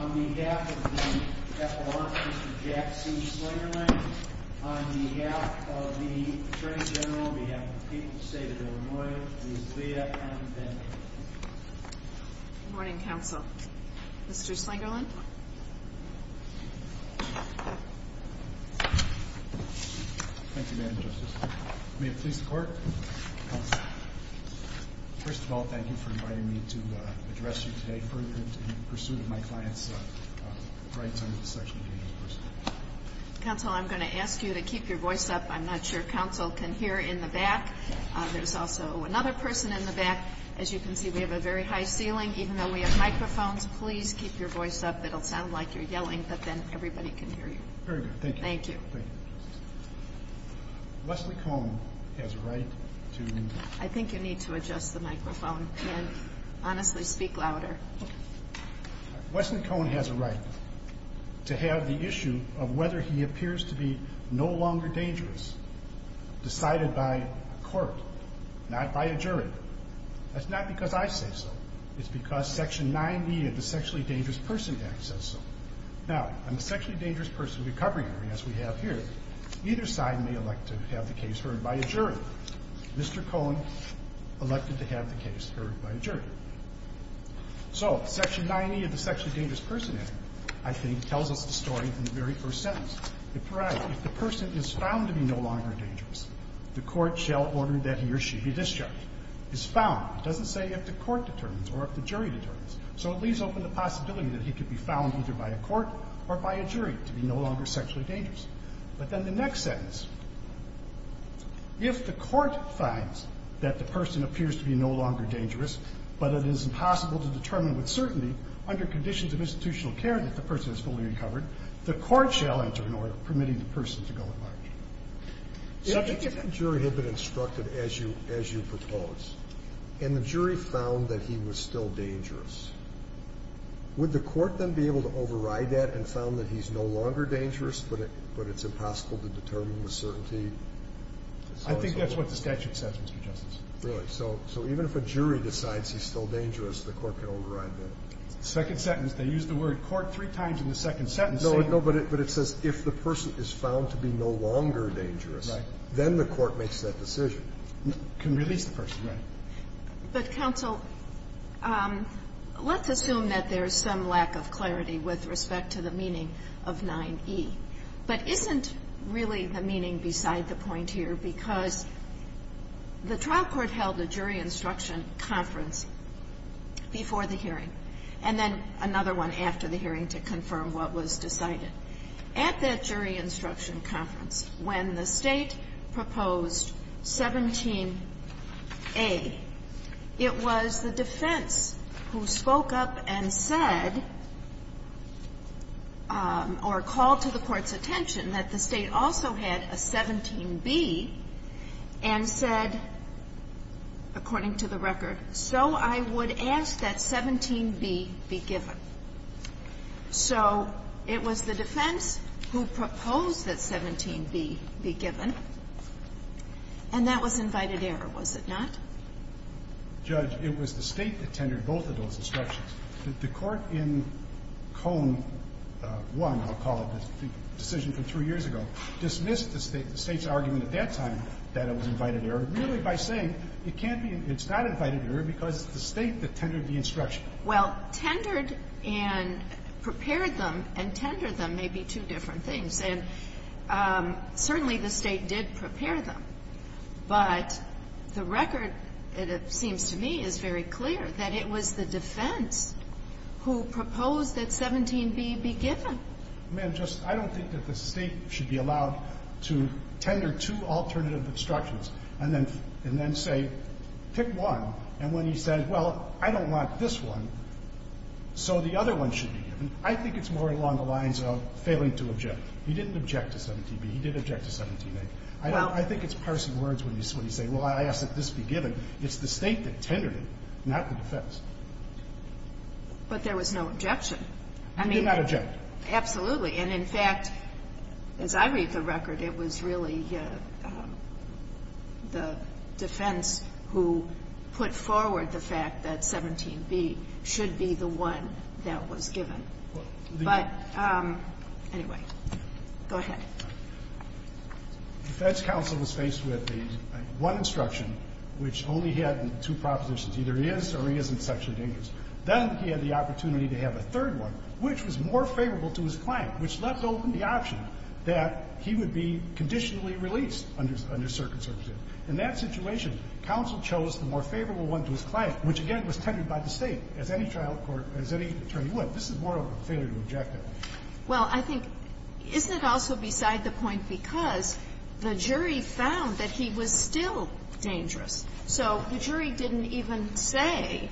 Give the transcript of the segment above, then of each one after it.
On behalf of the F.R. Mr. Jack C. Slangerland, on behalf of the Attorney General, on behalf of the people of the state of Illinois, Ms. Leah M. Bennett. Good morning, counsel. Mr. Slangerland? Thank you, Ms. Bennett. First of all, thank you for inviting me to address you today further in pursuit of my client's rights under the section of the University of Illinois. Counsel, I'm going to ask you to keep your voice up. I'm not sure counsel can hear in the back. There's also another person in the back. As you can see, we have a very high ceiling. Even though we have microphones, please keep your voice up. It'll sound like you're yelling, but then everybody can hear you. Very good. Thank you. Thank you. Leslie Coan has a right to... I think you need to adjust the microphone and honestly speak louder. Leslie Coan has a right to have the issue of whether he appears to be no longer dangerous decided by a court, not by a jury. That's not because I say so. It's because Section 9e of the Sexually Dangerous Person Act says so. Now, in the Sexually Dangerous Person Recovery Act, as we have here, neither side may elect to have the case heard by a jury. Mr. Coan elected to have the case heard by a jury. So Section 9e of the Sexually Dangerous Person Act, I think, tells us the story from the very first sentence. It provides if the person is found to be no longer dangerous, the court shall order that he or she be discharged. Now, if the person is found, it doesn't say if the court determines or if the jury determines. So it leaves open the possibility that he could be found either by a court or by a jury to be no longer sexually dangerous. But then the next sentence, if the court finds that the person appears to be no longer dangerous, but it is impossible to determine with certainty under conditions of institutional care that the person is fully recovered, the court shall enter an order permitting the person to go at large. So if the jury had been instructed, as you propose, and the jury found that he was still dangerous, would the court then be able to override that and found that he's no longer dangerous, but it's impossible to determine with certainty? I think that's what the statute says, Mr. Justice. Really? So even if a jury decides he's still dangerous, the court can override that? The second sentence, they use the word court three times in the second sentence. No, but it says if the person is found to be no longer dangerous, then the court makes that decision. Can release the person. But, counsel, let's assume that there's some lack of clarity with respect to the meaning of 9e, but isn't really the meaning beside the point here? Because the trial court held a jury instruction conference before the hearing, and then another one after the hearing to confirm what was decided. At that jury instruction conference, when the State proposed 17a, it was the defense who spoke up and said, or called to the court's attention, that the State also had a 17b and said, according to the record, so I would ask that 17b be given. So it was the defense who proposed that 17b be given, and that was invited error, was it not? Judge, it was the State that tendered both of those instructions. The court in Cone 1, I'll call it, the decision from three years ago, dismissed the State's argument at that time that it was invited error merely by saying it can't be, it's not invited error because it's the State that tendered the instruction. Well, tendered and prepared them and tendered them may be two different things. And certainly the State did prepare them, but the record, it seems to me, is very clear that it was the defense who proposed that 17b be given. I mean, just, I don't think that the State should be allowed to tender two alternative instructions and then say, pick one, and when he says, well, I don't want this one, so the other one should be given, I think it's more along the lines of failing to object. He didn't object to 17b. He did object to 17a. I think it's parsing words when you say, well, I ask that this be given. It's the State that tendered it, not the defense. But there was no objection. He did not object. Absolutely. And in fact, as I read the record, it was really the defense who put forward the fact that 17b should be the one that was given. But anyway, go ahead. The defense counsel was faced with the one instruction, which only had two propositions. Either he is or he isn't sexually dangerous. Then he had the opportunity to have a third one, which was more favorable to his client, which left open the option that he would be conditionally released under circumstances. In that situation, counsel chose the more favorable one to his client, which, again, was tended by the State, as any trial court, as any attorney would. This is more of a failure to object. Well, I think, isn't it also beside the point because the jury found that he was still dangerous? So the jury didn't even say,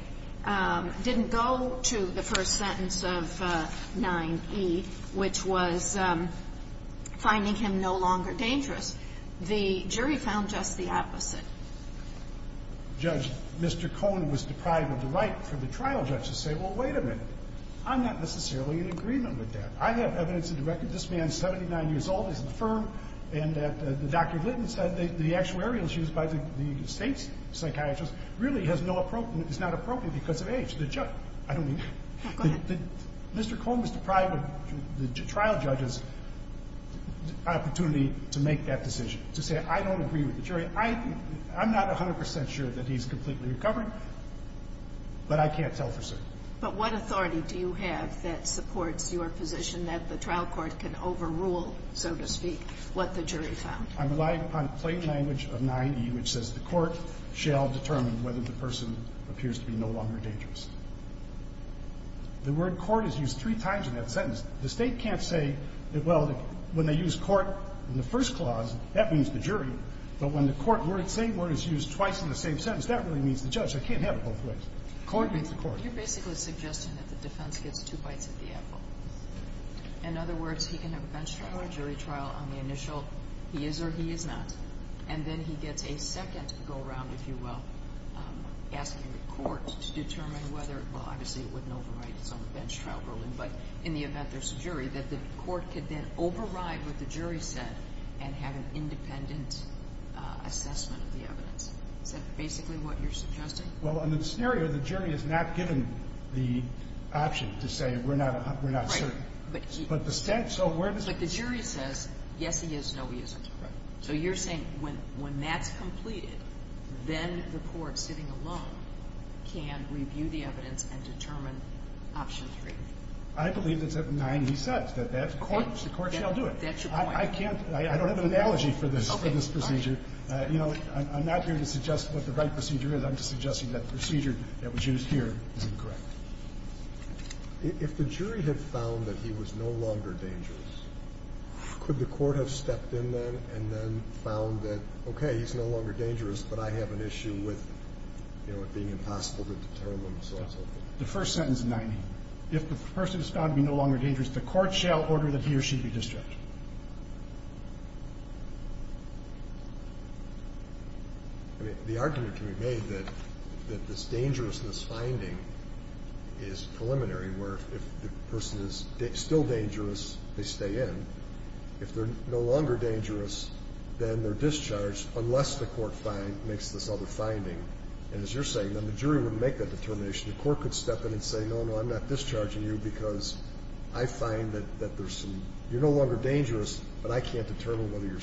didn't go to the first sentence of 9e, which was finding him no longer dangerous. The jury found just the opposite. Judge, Mr. Cohn was deprived of the right for the trial judge to say, well, wait a minute, I'm not necessarily in agreement with that. I have evidence to the record that this man is 79 years old, he's in the firm, and that Dr. Litton said the actuarial used by the State's psychiatrists really is not appropriate because of age. Go ahead. Mr. Cohn was deprived of the trial judge's opportunity to make that decision, to say, I don't agree with the jury. I'm not 100 percent sure that he's completely recovering, but I can't tell for certain. But what authority do you have that supports your position that the trial court can overrule, so to speak, what the jury found? I'm relying upon plain language of 9e, which says the court shall determine whether the person appears to be no longer dangerous. The word court is used three times in that sentence. The State can't say that, well, when they use court in the first clause, that means the jury, but when the court word, same word is used twice in the same sentence, that really means the judge. I can't have it both ways. Court means the court. You're basically suggesting that the defense gets two bites at the apple. In other words, he can have a bench trial or a jury trial on the initial he is or he is not, and then he gets a second go-around, if you will, asking the court to determine whether, well, obviously it wouldn't override its own bench trial ruling, but in the event there's a jury, that the court could then override what the jury said and have an independent assessment of the evidence. Is that basically what you're suggesting? Well, in the scenario, the jury is not given the option to say we're not certain. Right. But the State, so where does the jury say? But the jury says, yes, he is, no, he isn't. Right. So you're saying when that's completed, then the court, sitting alone, can review the evidence and determine option three. I believe it's at 9e, he says, that the court shall do it. Okay. That's your point. I can't. I don't have an analogy for this procedure. Okay. Fine. You know, I'm not here to suggest what the right procedure is. I'm just suggesting that the procedure that was used here is incorrect. If the jury had found that he was no longer dangerous, could the court have stepped in then and then found that, okay, he's no longer dangerous, but I have an issue with, you know, it being impossible to determine, so on and so forth? The first sentence of 9e, if the person is found to be no longer dangerous, the court shall order that he or she be discharged. I mean, the argument can be made that this dangerousness finding is preliminary, where if the person is still dangerous, they stay in. If they're no longer dangerous, then they're discharged unless the court makes this other finding. And as you're saying, then the jury wouldn't make that determination. The court could step in and say, no, no, I'm not discharging you because I find that there's some you're no longer dangerous, but I can't determine whether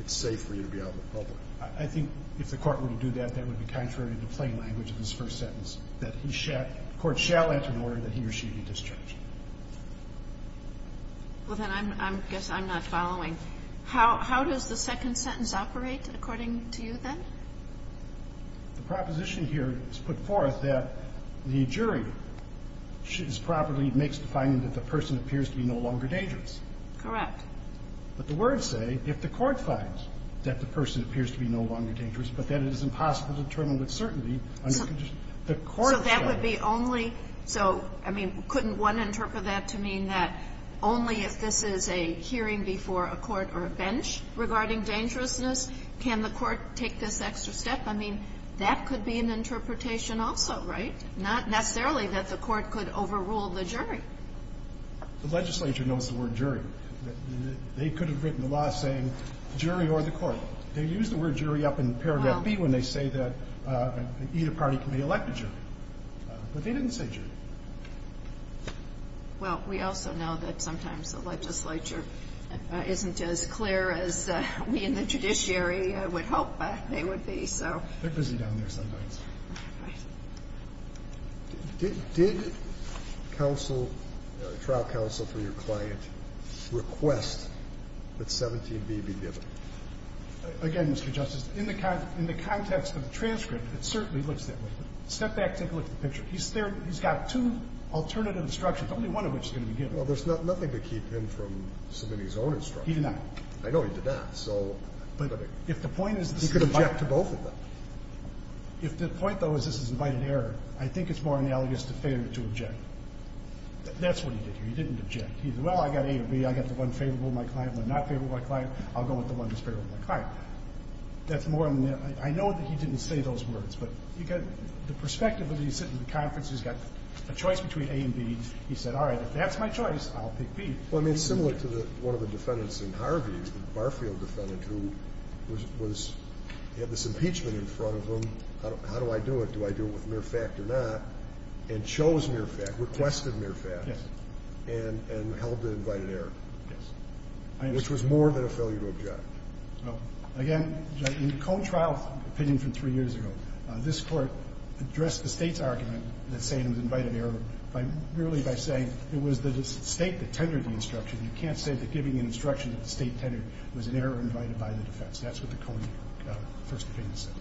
it's safe for you to be out in the public. I think if the court were to do that, that would be contrary to the plain language of this first sentence, that the court shall enter an order that he or she be discharged. Well, then I guess I'm not following. How does the second sentence operate, according to you, then? The proposition here is put forth that the jury properly makes the finding that the person appears to be no longer dangerous. Correct. But the words say, if the court finds that the person appears to be no longer dangerous but that it is impossible to determine with certainty under conditions, the court shall enter an order. So that would be only so, I mean, couldn't one interpret that to mean that only if this is a hearing before a court or a bench regarding dangerousness can the court take this extra step? I mean, that could be an interpretation also, right? Not necessarily that the court could overrule the jury. The legislature knows the word jury. They could have written the law saying jury or the court. They use the word jury up in paragraph B when they say that either party can be elected jury. But they didn't say jury. Well, we also know that sometimes the legislature isn't as clear as we in the judiciary would hope they would be, so. They're busy down there sometimes. Did counsel, trial counsel for your client request that 17B be given? Again, Mr. Justice, in the context of the transcript, it certainly looks that way. Step back, take a look at the picture. He's got two alternative instructions, only one of which is going to be given. Well, there's nothing to keep him from submitting his own instructions. He did not. I know he did not, so. But if the point is the same. He could object to both of them. If the point, though, is this is invited error, I think it's more analogous to failure to object. That's what he did here. He didn't object. He said, well, I've got A or B. I've got the one favorable to my client, the one not favorable to my client. I'll go with the one that's favorable to my client. That's more analogous. I know that he didn't say those words, but you get the perspective that he's sitting in the conference. He's got a choice between A and B. He said, all right, if that's my choice, I'll pick B. Well, I mean, it's similar to one of the defendants in Harvey, the Barfield defendant, who was, had this impeachment in front of him. How do I do it? Do I do it with mere fact or not? And chose mere fact, requested mere fact. Yes. And held to invited error. Yes. Which was more than a failure to object. Well, again, in the cold trial opinion from three years ago, this Court addressed the State's argument that saying it was invited error by merely by saying it was the State that tendered the instruction. You can't say that giving an instruction that the State tendered was an error invited by the defense. That's what the Coney first opinion said.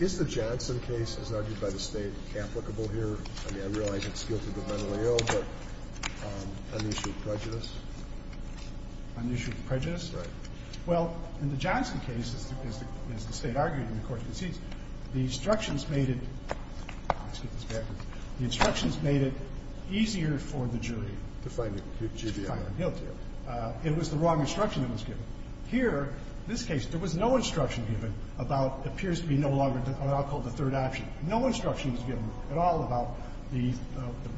Is the Johnson case, as argued by the State, applicable here? I mean, I realize it's guilt of the mentally ill, but on the issue of prejudice? On the issue of prejudice? Right. Well, in the Johnson case, as the State argued and the Court concedes, the instructions made it easier for the jury to find the guilty. It was the wrong instruction that was given. Here, in this case, there was no instruction given about what appears to be no longer called the third option. No instruction was given at all about the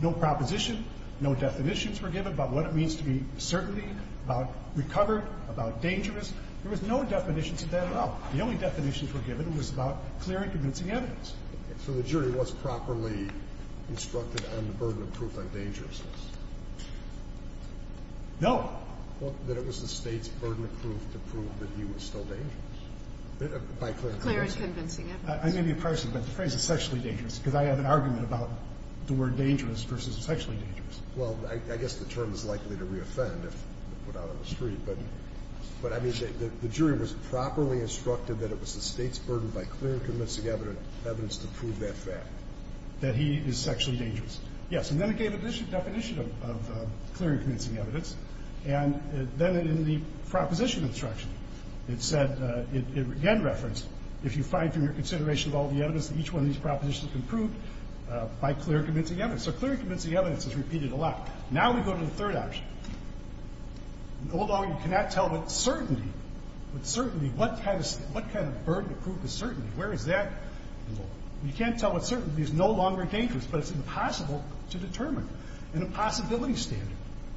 no proposition, no definitions were given about what it means to be certain, about recovered, about dangerous. There was no definitions of that at all. The only definitions were given. It was about clear and convincing evidence. So the jury was properly instructed on the burden of proof on dangerousness? No. That it was the State's burden of proof to prove that he was still dangerous by clear and convincing evidence. Clear and convincing evidence. I may be a person, but the phrase is sexually dangerous because I have an argument about the word dangerous versus sexually dangerous. Well, I guess the term is likely to reoffend if put out on the street, but I mean, the jury was properly instructed that it was the State's burden by clear and convincing evidence to prove that fact. That he is sexually dangerous. Yes. And then it gave a definition of clear and convincing evidence. And then in the proposition instruction, it said, it again referenced, if you find from your consideration of all the evidence that each one of these propositions can prove by clear and convincing evidence. So clear and convincing evidence is repeated a lot. Now we go to the third option. Although you cannot tell with certainty, with certainty, what kind of burden of proof is certainty? Where is that? You can't tell with certainty. It's no longer dangerous, but it's impossible to determine. In a possibility standard,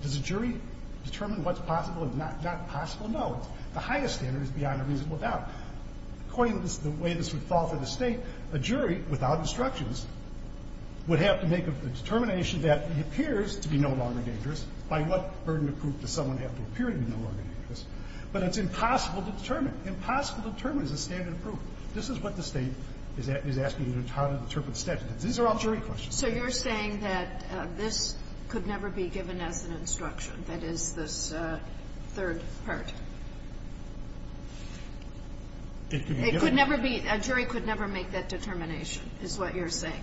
does a jury determine what's possible and not possible? No. The highest standard is beyond a reasonable doubt. According to the way this would fall for the State, a jury without instructions would have to make a determination that he appears to be no longer dangerous by what burden of proof does someone have to appear to be no longer dangerous? But it's impossible to determine. Impossible to determine is a standard of proof. This is what the State is asking you how to interpret the statute. These are all jury questions. So you're saying that this could never be given as an instruction, that is, this third part? It could be given. It could never be. A jury could never make that determination, is what you're saying.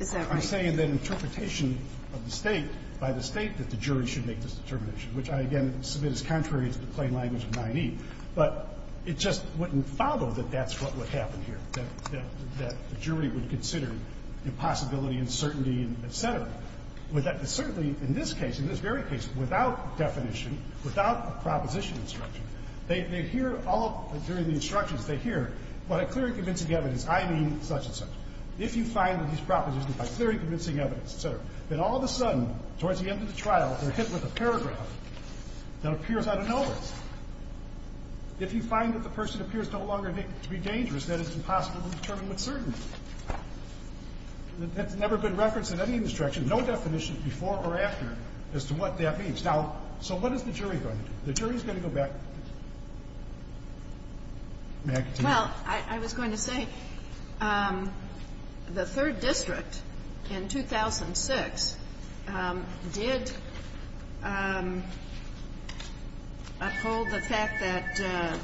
Is that right? I'm saying that interpretation of the State by the State that the jury should make this determination, which I, again, submit as contrary to the plain language of 9E. But it just wouldn't follow that that's what would happen here, that the jury would consider the possibility and certainty, et cetera. Certainly in this case, in this very case, without definition, without a proposition instruction, they hear all of the instructions. They hear, what a clear and convincing evidence, I mean such and such. If you find that these propositions provide very convincing evidence, et cetera, then all of a sudden, towards the end of the trial, they're hit with a paragraph that appears out of nowhere. If you find that the person appears no longer to be dangerous, then it's impossible to determine with certainty. That's never been referenced in any instruction, no definition before or after as to what that means. Now, so what is the jury going to do? The jury is going to go back. May I continue? Well, I was going to say, the Third District in 2006 did uphold the fact that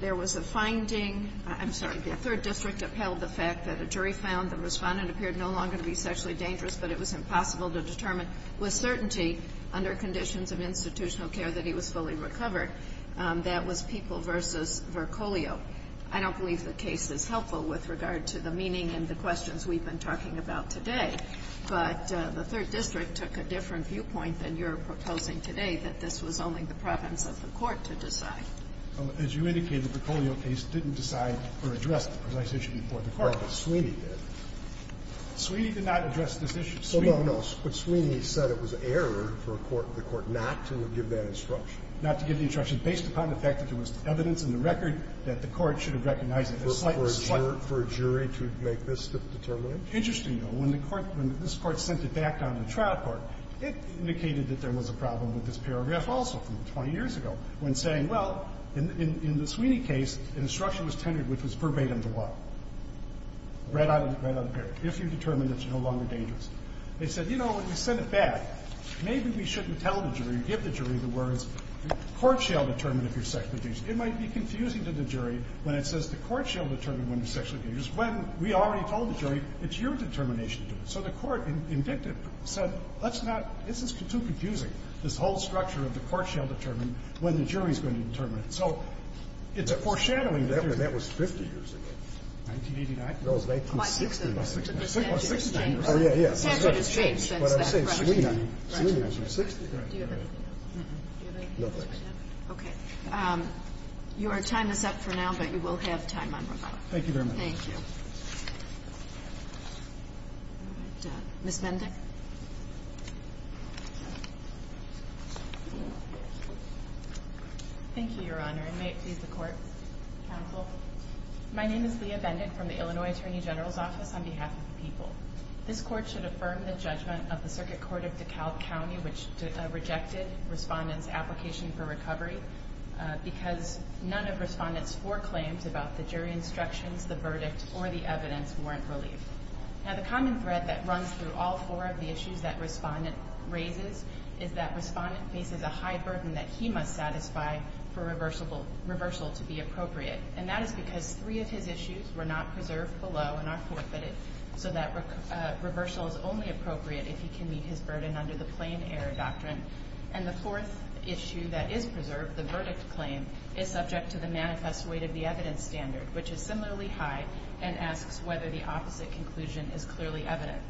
there was a finding. I'm sorry. The Third District upheld the fact that a jury found the Respondent appeared no longer to be sexually dangerous, but it was impossible to determine with certainty under conditions of institutional care that he was fully recovered. And that was People v. Vercolio. I don't believe the case is helpful with regard to the meaning and the questions we've been talking about today, but the Third District took a different viewpoint than you're proposing today, that this was only the province of the Court to decide. Well, as you indicated, the Vercolio case didn't decide or address the precise issue before the Court, but Sweeney did. Sweeney did not address this issue. Sweeney said it was error for the Court not to give that instruction, not to give the instruction, based upon the fact that there was evidence in the record that the Court should have recognized it. For a jury to make this determination? Interesting, though. When the Court – when this Court sent it back down to the trial court, it indicated that there was a problem with this paragraph also from 20 years ago when saying, well, in the Sweeney case, an instruction was tendered which was verbatim to what? Read out of the paragraph. If you determine that you're no longer dangerous. They said, you know, when you send it back, maybe we shouldn't tell the jury, give the jury the words, the Court shall determine if you're sexually dangerous. It might be confusing to the jury when it says the Court shall determine when you're sexually dangerous, when we already told the jury it's your determination to do it. So the Court, indicted, said let's not – this is too confusing, this whole structure of the Court shall determine when the jury is going to determine it. So it's a foreshadowing. That was 50 years ago. 1989? No, it was 1960. Oh, yeah, yeah. The statute has changed since then. But I'm saying Sweeney. Sweeney was in 1963. Do you have anything else? No, thanks. Okay. Your time is up for now, but you will have time on rebuttal. Thank you very much. Thank you. All right. Ms. Mendick. Thank you, Your Honor, and may it please the Court, counsel. My name is Leah Mendick from the Illinois Attorney General's Office on behalf of the people. This Court should affirm the judgment of the Circuit Court of DeKalb County, which rejected Respondent's application for recovery because none of Respondent's four claims about the jury instructions, the verdict, or the evidence warrant relief. Now, the common thread that runs through all four of the issues that Respondent raises is that Respondent faces a high burden that he must satisfy for reversal to be appropriate. And that is because three of his issues were not preserved below and are forfeited, so that reversal is only appropriate if he can meet his burden under the plain error doctrine. And the fourth issue that is preserved, the verdict claim, is subject to the manifest weight of the evidence standard, which is similarly high and asks whether the opposite conclusion is clearly evident.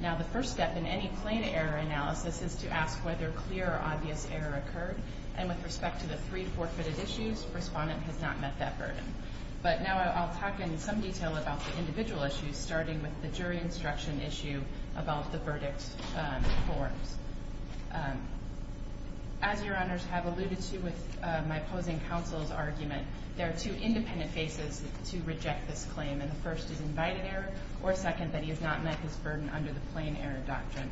Now, the first step in any plain error analysis is to ask whether clear or obvious error occurred. And with respect to the three forfeited issues, Respondent has not met that burden. But now I'll talk in some detail about the individual issues, starting with the jury instruction issue about the verdict forms. As Your Honors have alluded to with my opposing counsel's argument, there are two independent faces to reject this claim. And the first is invited error, or second, that he has not met his burden under the plain error doctrine.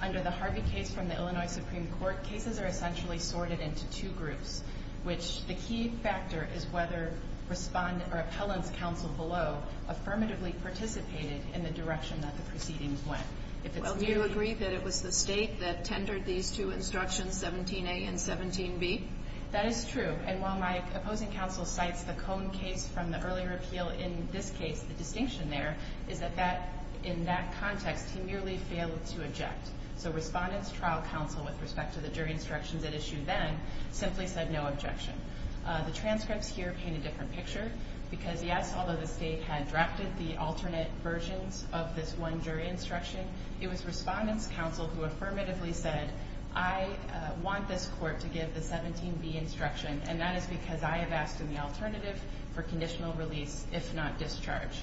Under the Harvey case from the Illinois Supreme Court, cases are essentially sorted into two groups, which the key factor is whether Respondent or appellant's counsel below affirmatively participated in the direction that the proceedings If it's merely ---- Well, do you agree that it was the State that tendered these two instructions, 17a and 17b? That is true. And while my opposing counsel cites the Cohn case from the earlier appeal, in this case, the distinction there is that that, in that context, he merely failed to object. So Respondent's trial counsel, with respect to the jury instructions at issue then, simply said no objection. The transcripts here paint a different picture. Because, yes, although the State had drafted the alternate versions of this one jury instruction, it was Respondent's counsel who affirmatively said, I want this court to give the 17b instruction, and that is because I have asked in the alternative for conditional release, if not discharge.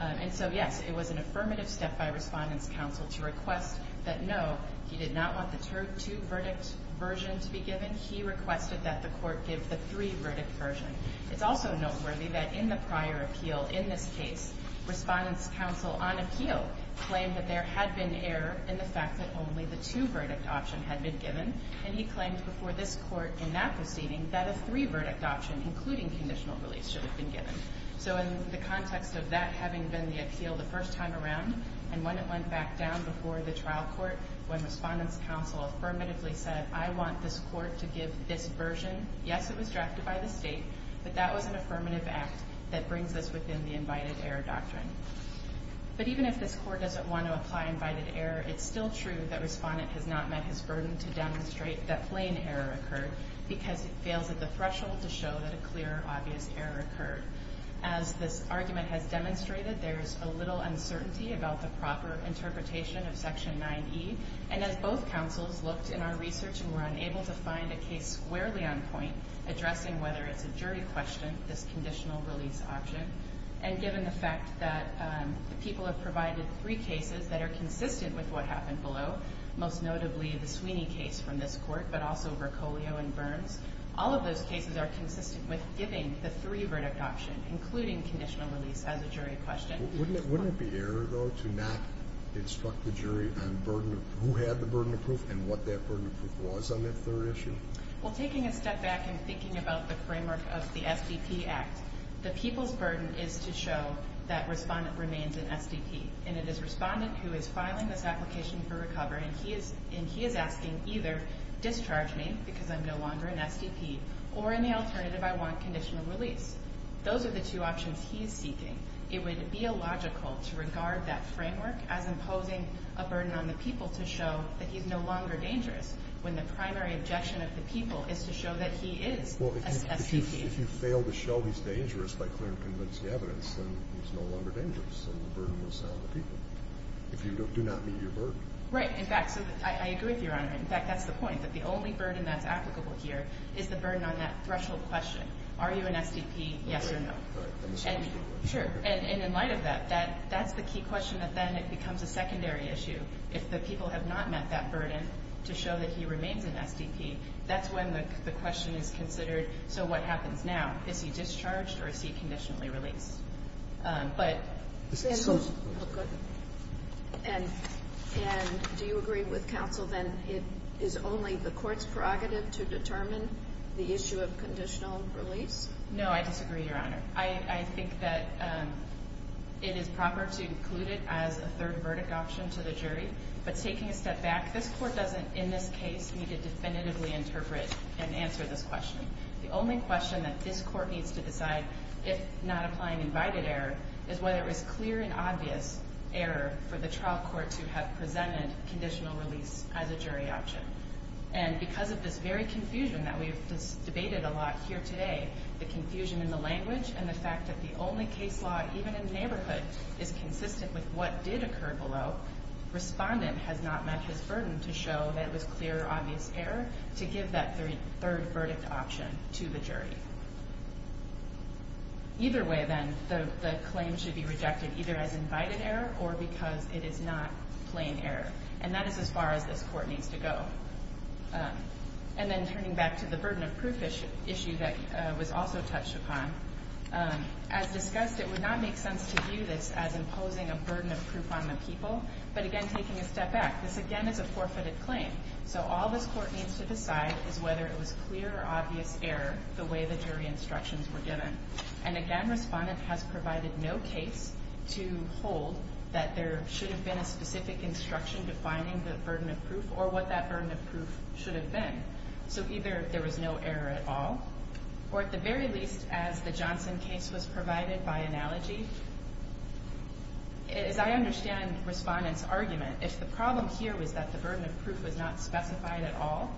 And so, yes, it was an affirmative step by Respondent's counsel to request that, no, he did not want the two-verdict version to be given. He requested that the court give the three-verdict version. It's also noteworthy that in the prior appeal, in this case, Respondent's counsel on appeal claimed that there had been error in the fact that only the two-verdict option had been given. And he claimed before this court in that proceeding that a three-verdict option, including conditional release, should have been given. So in the context of that having been the appeal the first time around, and when it went back down before the trial court, when Respondent's counsel affirmatively said, I want this court to give this version, yes, it was drafted by the State, but that was an affirmative act that brings us within the invited error doctrine. But even if this court doesn't want to apply invited error, it's still true that Respondent has not met his burden to demonstrate that plain error occurred, because it fails at the threshold to show that a clear, obvious error occurred. As this argument has demonstrated, there is a little uncertainty about the proper interpretation of Section 9E. And as both counsels looked in our research and were unable to find a case squarely on point, addressing whether it's a jury question, this conditional release option, and given the fact that people have provided three cases that are consistent with what happened below, most notably the Sweeney case from this All of those cases are consistent with giving the three-verdict option, including conditional release as a jury question. Wouldn't it be error, though, to not instruct the jury on who had the burden of proof and what that burden of proof was on that third issue? Well, taking a step back and thinking about the framework of the SDP Act, the people's burden is to show that Respondent remains an SDP. And it is Respondent who is filing this application for recovery, and he is asking either discharge me because I'm no longer an SDP, or in the alternative, I want conditional release. Those are the two options he is seeking. It would be illogical to regard that framework as imposing a burden on the people to show that he's no longer dangerous, when the primary objection of the people is to show that he is an SDP. Well, if you fail to show he's dangerous by clear and convincing evidence, then he's no longer dangerous, and the burden will sound to people. If you do not meet your burden. Right. In fact, so I agree with Your Honor. In fact, that's the point, that the only burden that's applicable here is the burden on that threshold question. Are you an SDP? Yes or no? Sure. And in light of that, that's the key question that then it becomes a secondary issue. If the people have not met that burden to show that he remains an SDP, that's when the question is considered, so what happens now? Is he discharged, or is he conditionally released? But. And do you agree with counsel then it is only the court's prerogative to determine the issue of conditional release? No, I disagree, Your Honor. I think that it is proper to include it as a third verdict option to the jury, but taking a step back, this Court doesn't in this case need to definitively interpret and answer this question. The only question that this Court needs to decide, if not applying invited error, is whether it was clear and obvious error for the trial court to have presented conditional release as a jury option. And because of this very confusion that we've debated a lot here today, the confusion in the language and the fact that the only case law, even in the neighborhood, is consistent with what did occur below, respondent has not met his burden to show that it was clear or obvious error to give that third verdict option to the jury. Either way then, the claim should be rejected either as invited error or because it is not plain error. And that is as far as this Court needs to go. And then turning back to the burden of proof issue that was also touched upon, as discussed, it would not make sense to view this as imposing a burden of proof on the people, but again taking a step back, this again is a forfeited claim. So all this Court needs to decide is whether it was clear or obvious error the way the jury instructions were given. And again, respondent has provided no case to hold that there should have been a specific instruction defining the burden of proof or what that burden of proof should have been. So either there was no error at all or at the very least, as the Johnson case was provided by analogy, as I understand respondent's argument, if the problem here was that the burden of proof was not specified at all,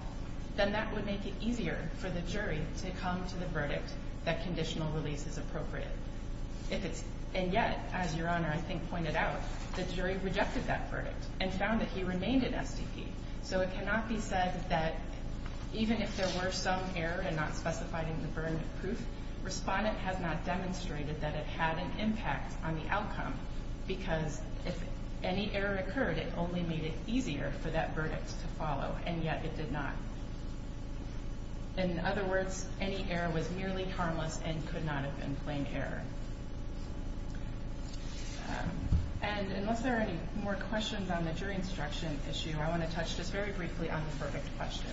then that would make it clear to the verdict that conditional release is appropriate. And yet, as Your Honor I think pointed out, the jury rejected that verdict and found that he remained in SDP. So it cannot be said that even if there were some error and not specified in the burden of proof, respondent has not demonstrated that it had an impact on the outcome because if any error occurred, it only made it easier for that verdict to follow, and yet it did not. In other words, any error was merely harmless and could not have been plain error. And unless there are any more questions on the jury instruction issue, I want to touch just very briefly on the verdict question.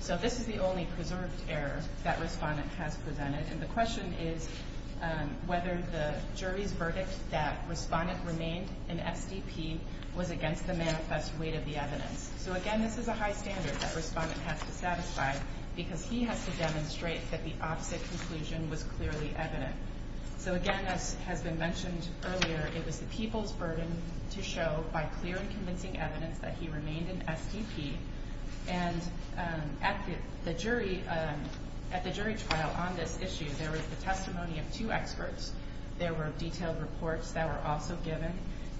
So this is the only preserved error that respondent has presented, and the question is whether the jury's verdict that respondent remained in SDP was against the manifest weight of the evidence. So again, this is a high standard that respondent has to satisfy because he has to demonstrate that the opposite conclusion was clearly evident. So again, as has been mentioned earlier, it was the people's burden to show by clear and convincing evidence that he remained in SDP. And at the jury trial on this issue, there was the testimony of two experts. There were detailed reports that were also given.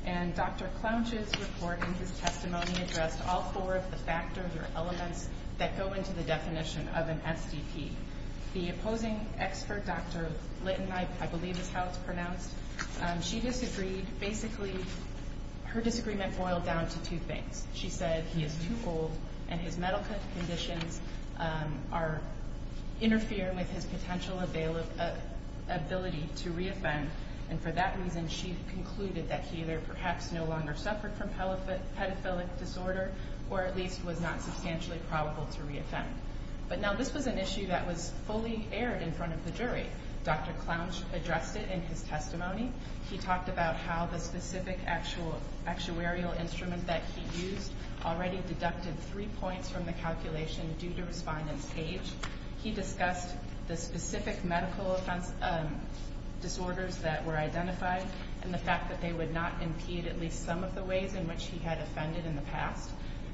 And Dr. Clouch's report in his testimony addressed all four of the factors or elements that go into the definition of an SDP. The opposing expert, Dr. Litten, I believe is how it's pronounced, she disagreed. Basically, her disagreement boiled down to two things. She said he is too old and his medical conditions interfere with his potential ability to re-offend. And for that reason, she concluded that he either perhaps no longer suffered from pedophilic disorder or at least was not substantially probable to re-offend. But now this was an issue that was fully aired in front of the jury. Dr. Clouch addressed it in his testimony. He talked about how the specific actuarial instrument that he used already deducted three points from the calculation due to respondent's age. He discussed the specific medical disorders that were identified and the fact that they would not impede at least some of the ways in which he had offended in the past.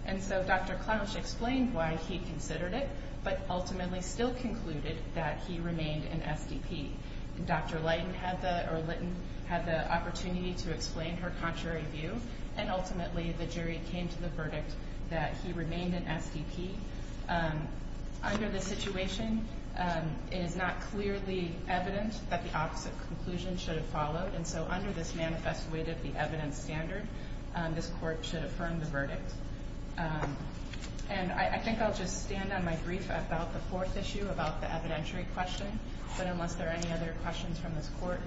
And so Dr. Clouch explained why he considered it, but ultimately still concluded that he remained an SDP. Dr. Litten had the opportunity to explain her contrary view, and ultimately the jury came to the verdict that he remained an SDP. Under this situation, it is not clearly evident that the opposite conclusion should have followed. And so under this manifest weight of the evidence standard, this Court should affirm the verdict. And I think I'll just stand on my brief about the fourth issue, about the evidentiary question. But unless there are any other questions from this Court,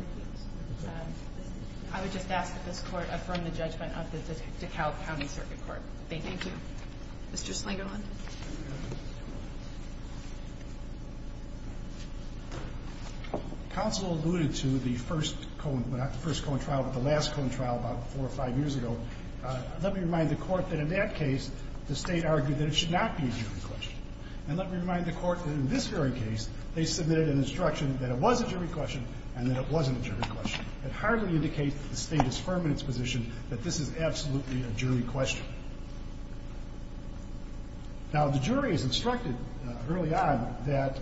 I would just ask that this Court affirm the judgment of the DeKalb County Circuit Court. Thank you. Thank you. Mr. Slingerland. Counsel alluded to the first Cohen – not the first Cohen trial, but the last Cohen trial about four or five years ago. Let me remind the Court that in that case, the State argued that it should not be a jury question. And let me remind the Court that in this very case, they submitted an instruction that it was a jury question and that it wasn't a jury question. It hardly indicates that the State is firm in its position that this is absolutely a jury question. Now, the jury is instructed early on that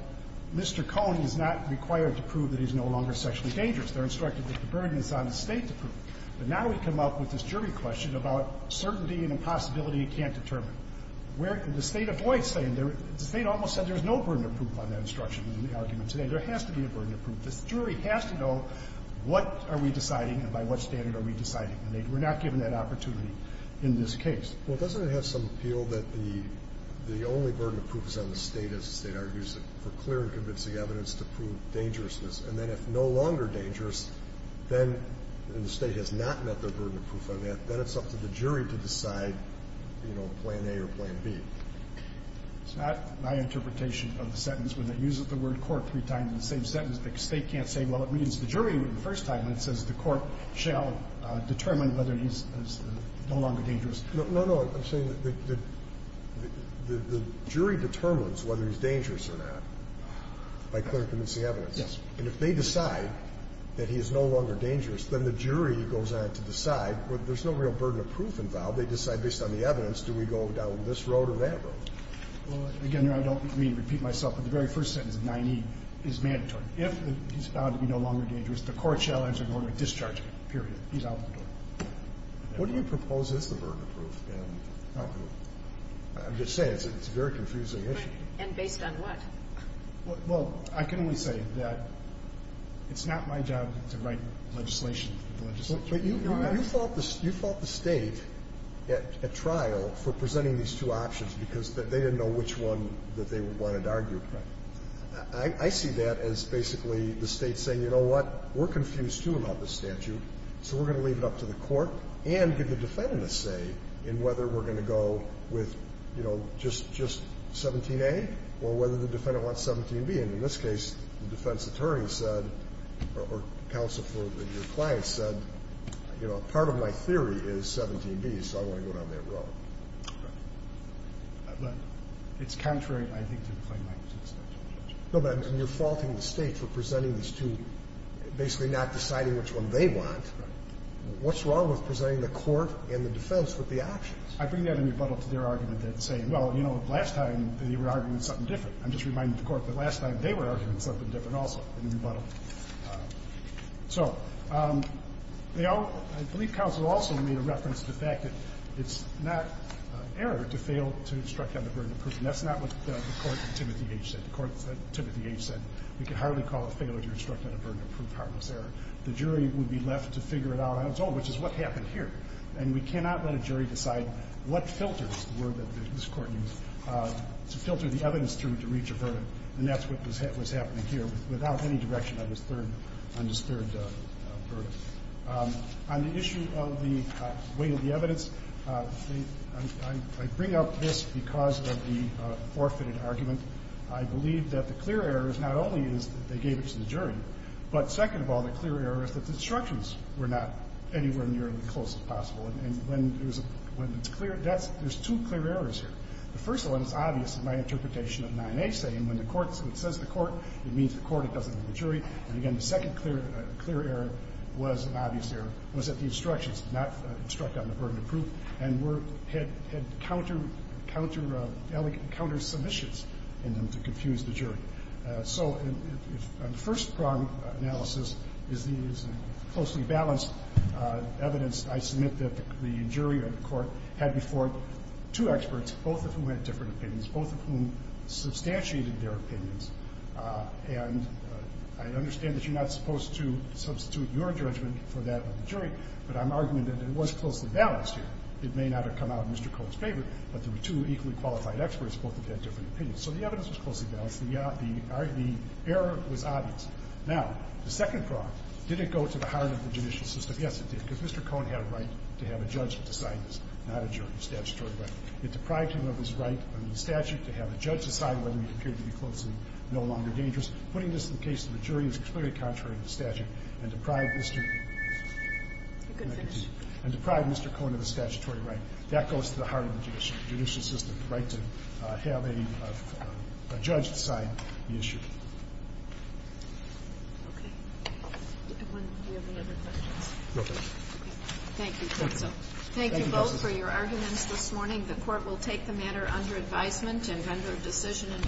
Mr. Cohen is not required to prove that he's no longer sexually dangerous. They're instructed that the burden is on the State to prove it. But now we come up with this jury question about certainty and impossibility it can't determine. Where – and the State avoids saying – the State almost said there's no burden to prove on that instruction in the argument today. There has to be a burden to prove. The jury has to know what are we deciding and by what standard are we deciding. And they were not given that opportunity in this case. Well, doesn't it have some appeal that the only burden of proof is on the State as the State argues for clear and convincing evidence to prove dangerousness? And then if no longer dangerous, then the State has not met the burden of proof on that. Then it's up to the jury to decide, you know, plan A or plan B. It's not my interpretation of the sentence. When they use the word court three times in the same sentence, the State can't say, well, it means the jury the first time. It says the court shall determine whether he's no longer dangerous. No, no. I'm saying that the jury determines whether he's dangerous or not by clear and convincing evidence. Yes. And if they decide that he is no longer dangerous, then the jury goes on to decide whether there's no real burden of proof involved. They decide based on the evidence do we go down this road or that road. Well, again, I don't mean to repeat myself, but the very first sentence of 9E is mandatory. If he's found to be no longer dangerous, the court shall enter into a discharge period. He's out the door. What do you propose is the burden of proof? I'm just saying it's a very confusing issue. Right. And based on what? Well, I can only say that it's not my job to write legislation for the legislature. You fought the State at trial for presenting these two options because they didn't know which one that they wanted to argue. Right. I see that as basically the State saying, you know what, we're confused, too, about this statute, so we're going to leave it up to the court and give the defendant a say in whether we're going to go with, you know, just 17A or whether the defendant wants 17B. And in this case, the defense attorney said or counsel for your client said, you know, part of my theory is 17B, so I want to go down that road. Right. But it's contrary, I think, to the claimant to the statute. No, but you're faulting the State for presenting these two, basically not deciding which one they want. Right. What's wrong with presenting the court and the defense with the options? I bring that in rebuttal to their argument that's saying, well, you know, last time they were arguing something different. I'm just reminding the court that last time they were arguing something different also in rebuttal. So, you know, I believe counsel also made a reference to the fact that it's not errors to fail to instruct on the burden of proof. And that's not what the Court of Timothy H. said. The Court of Timothy H. said we can hardly call a failure to instruct on a burden of proof harmless error. The jury would be left to figure it out on its own, which is what happened here. And we cannot let a jury decide what filters, the word that this Court used, to filter the evidence through to reach a verdict. And that's what was happening here without any direction on this third verdict. On the issue of the weight of the evidence, I bring up this because of the forfeited argument. I believe that the clear error is not only that they gave it to the jury, but second of all, the clear error is that the instructions were not anywhere near as close as possible. And when it's clear, there's two clear errors here. The first one is obvious in my interpretation of 9a saying when it says the court, it means the court. It doesn't mean the jury. And, again, the second clear error was an obvious error, was that the instructions did not instruct on the burden of proof and had counter-submissions in them to confuse the jury. So on the first problem analysis is the closely balanced evidence. I submit that the jury or the court had before it two experts, both of whom had different opinions, both of whom substantiated their opinions. And I understand that you're not supposed to substitute your judgment for that of the jury, but I'm arguing that it was closely balanced here. It may not have come out in Mr. Cohn's favor, but there were two equally qualified experts, both of whom had different opinions. So the evidence was closely balanced. The error was obvious. Now, the second problem, did it go to the heart of the judicial system? Yes, it did, because Mr. Cohn had a right to have a judge decide this, not a jury, statutory right. It deprived him of his right under the statute to have a judge decide whether he appeared to be close and no longer dangerous. Putting this in the case of a jury is completely contrary to the statute and deprived Mr. Cohn of the statutory right. That goes to the heart of the judicial system, the right to have a judge decide the issue. Okay. Do we have any other questions? No, ma'am. Thank you, counsel. Thank you both for your arguments this morning. The court will take the matter under advisement and vendor decision.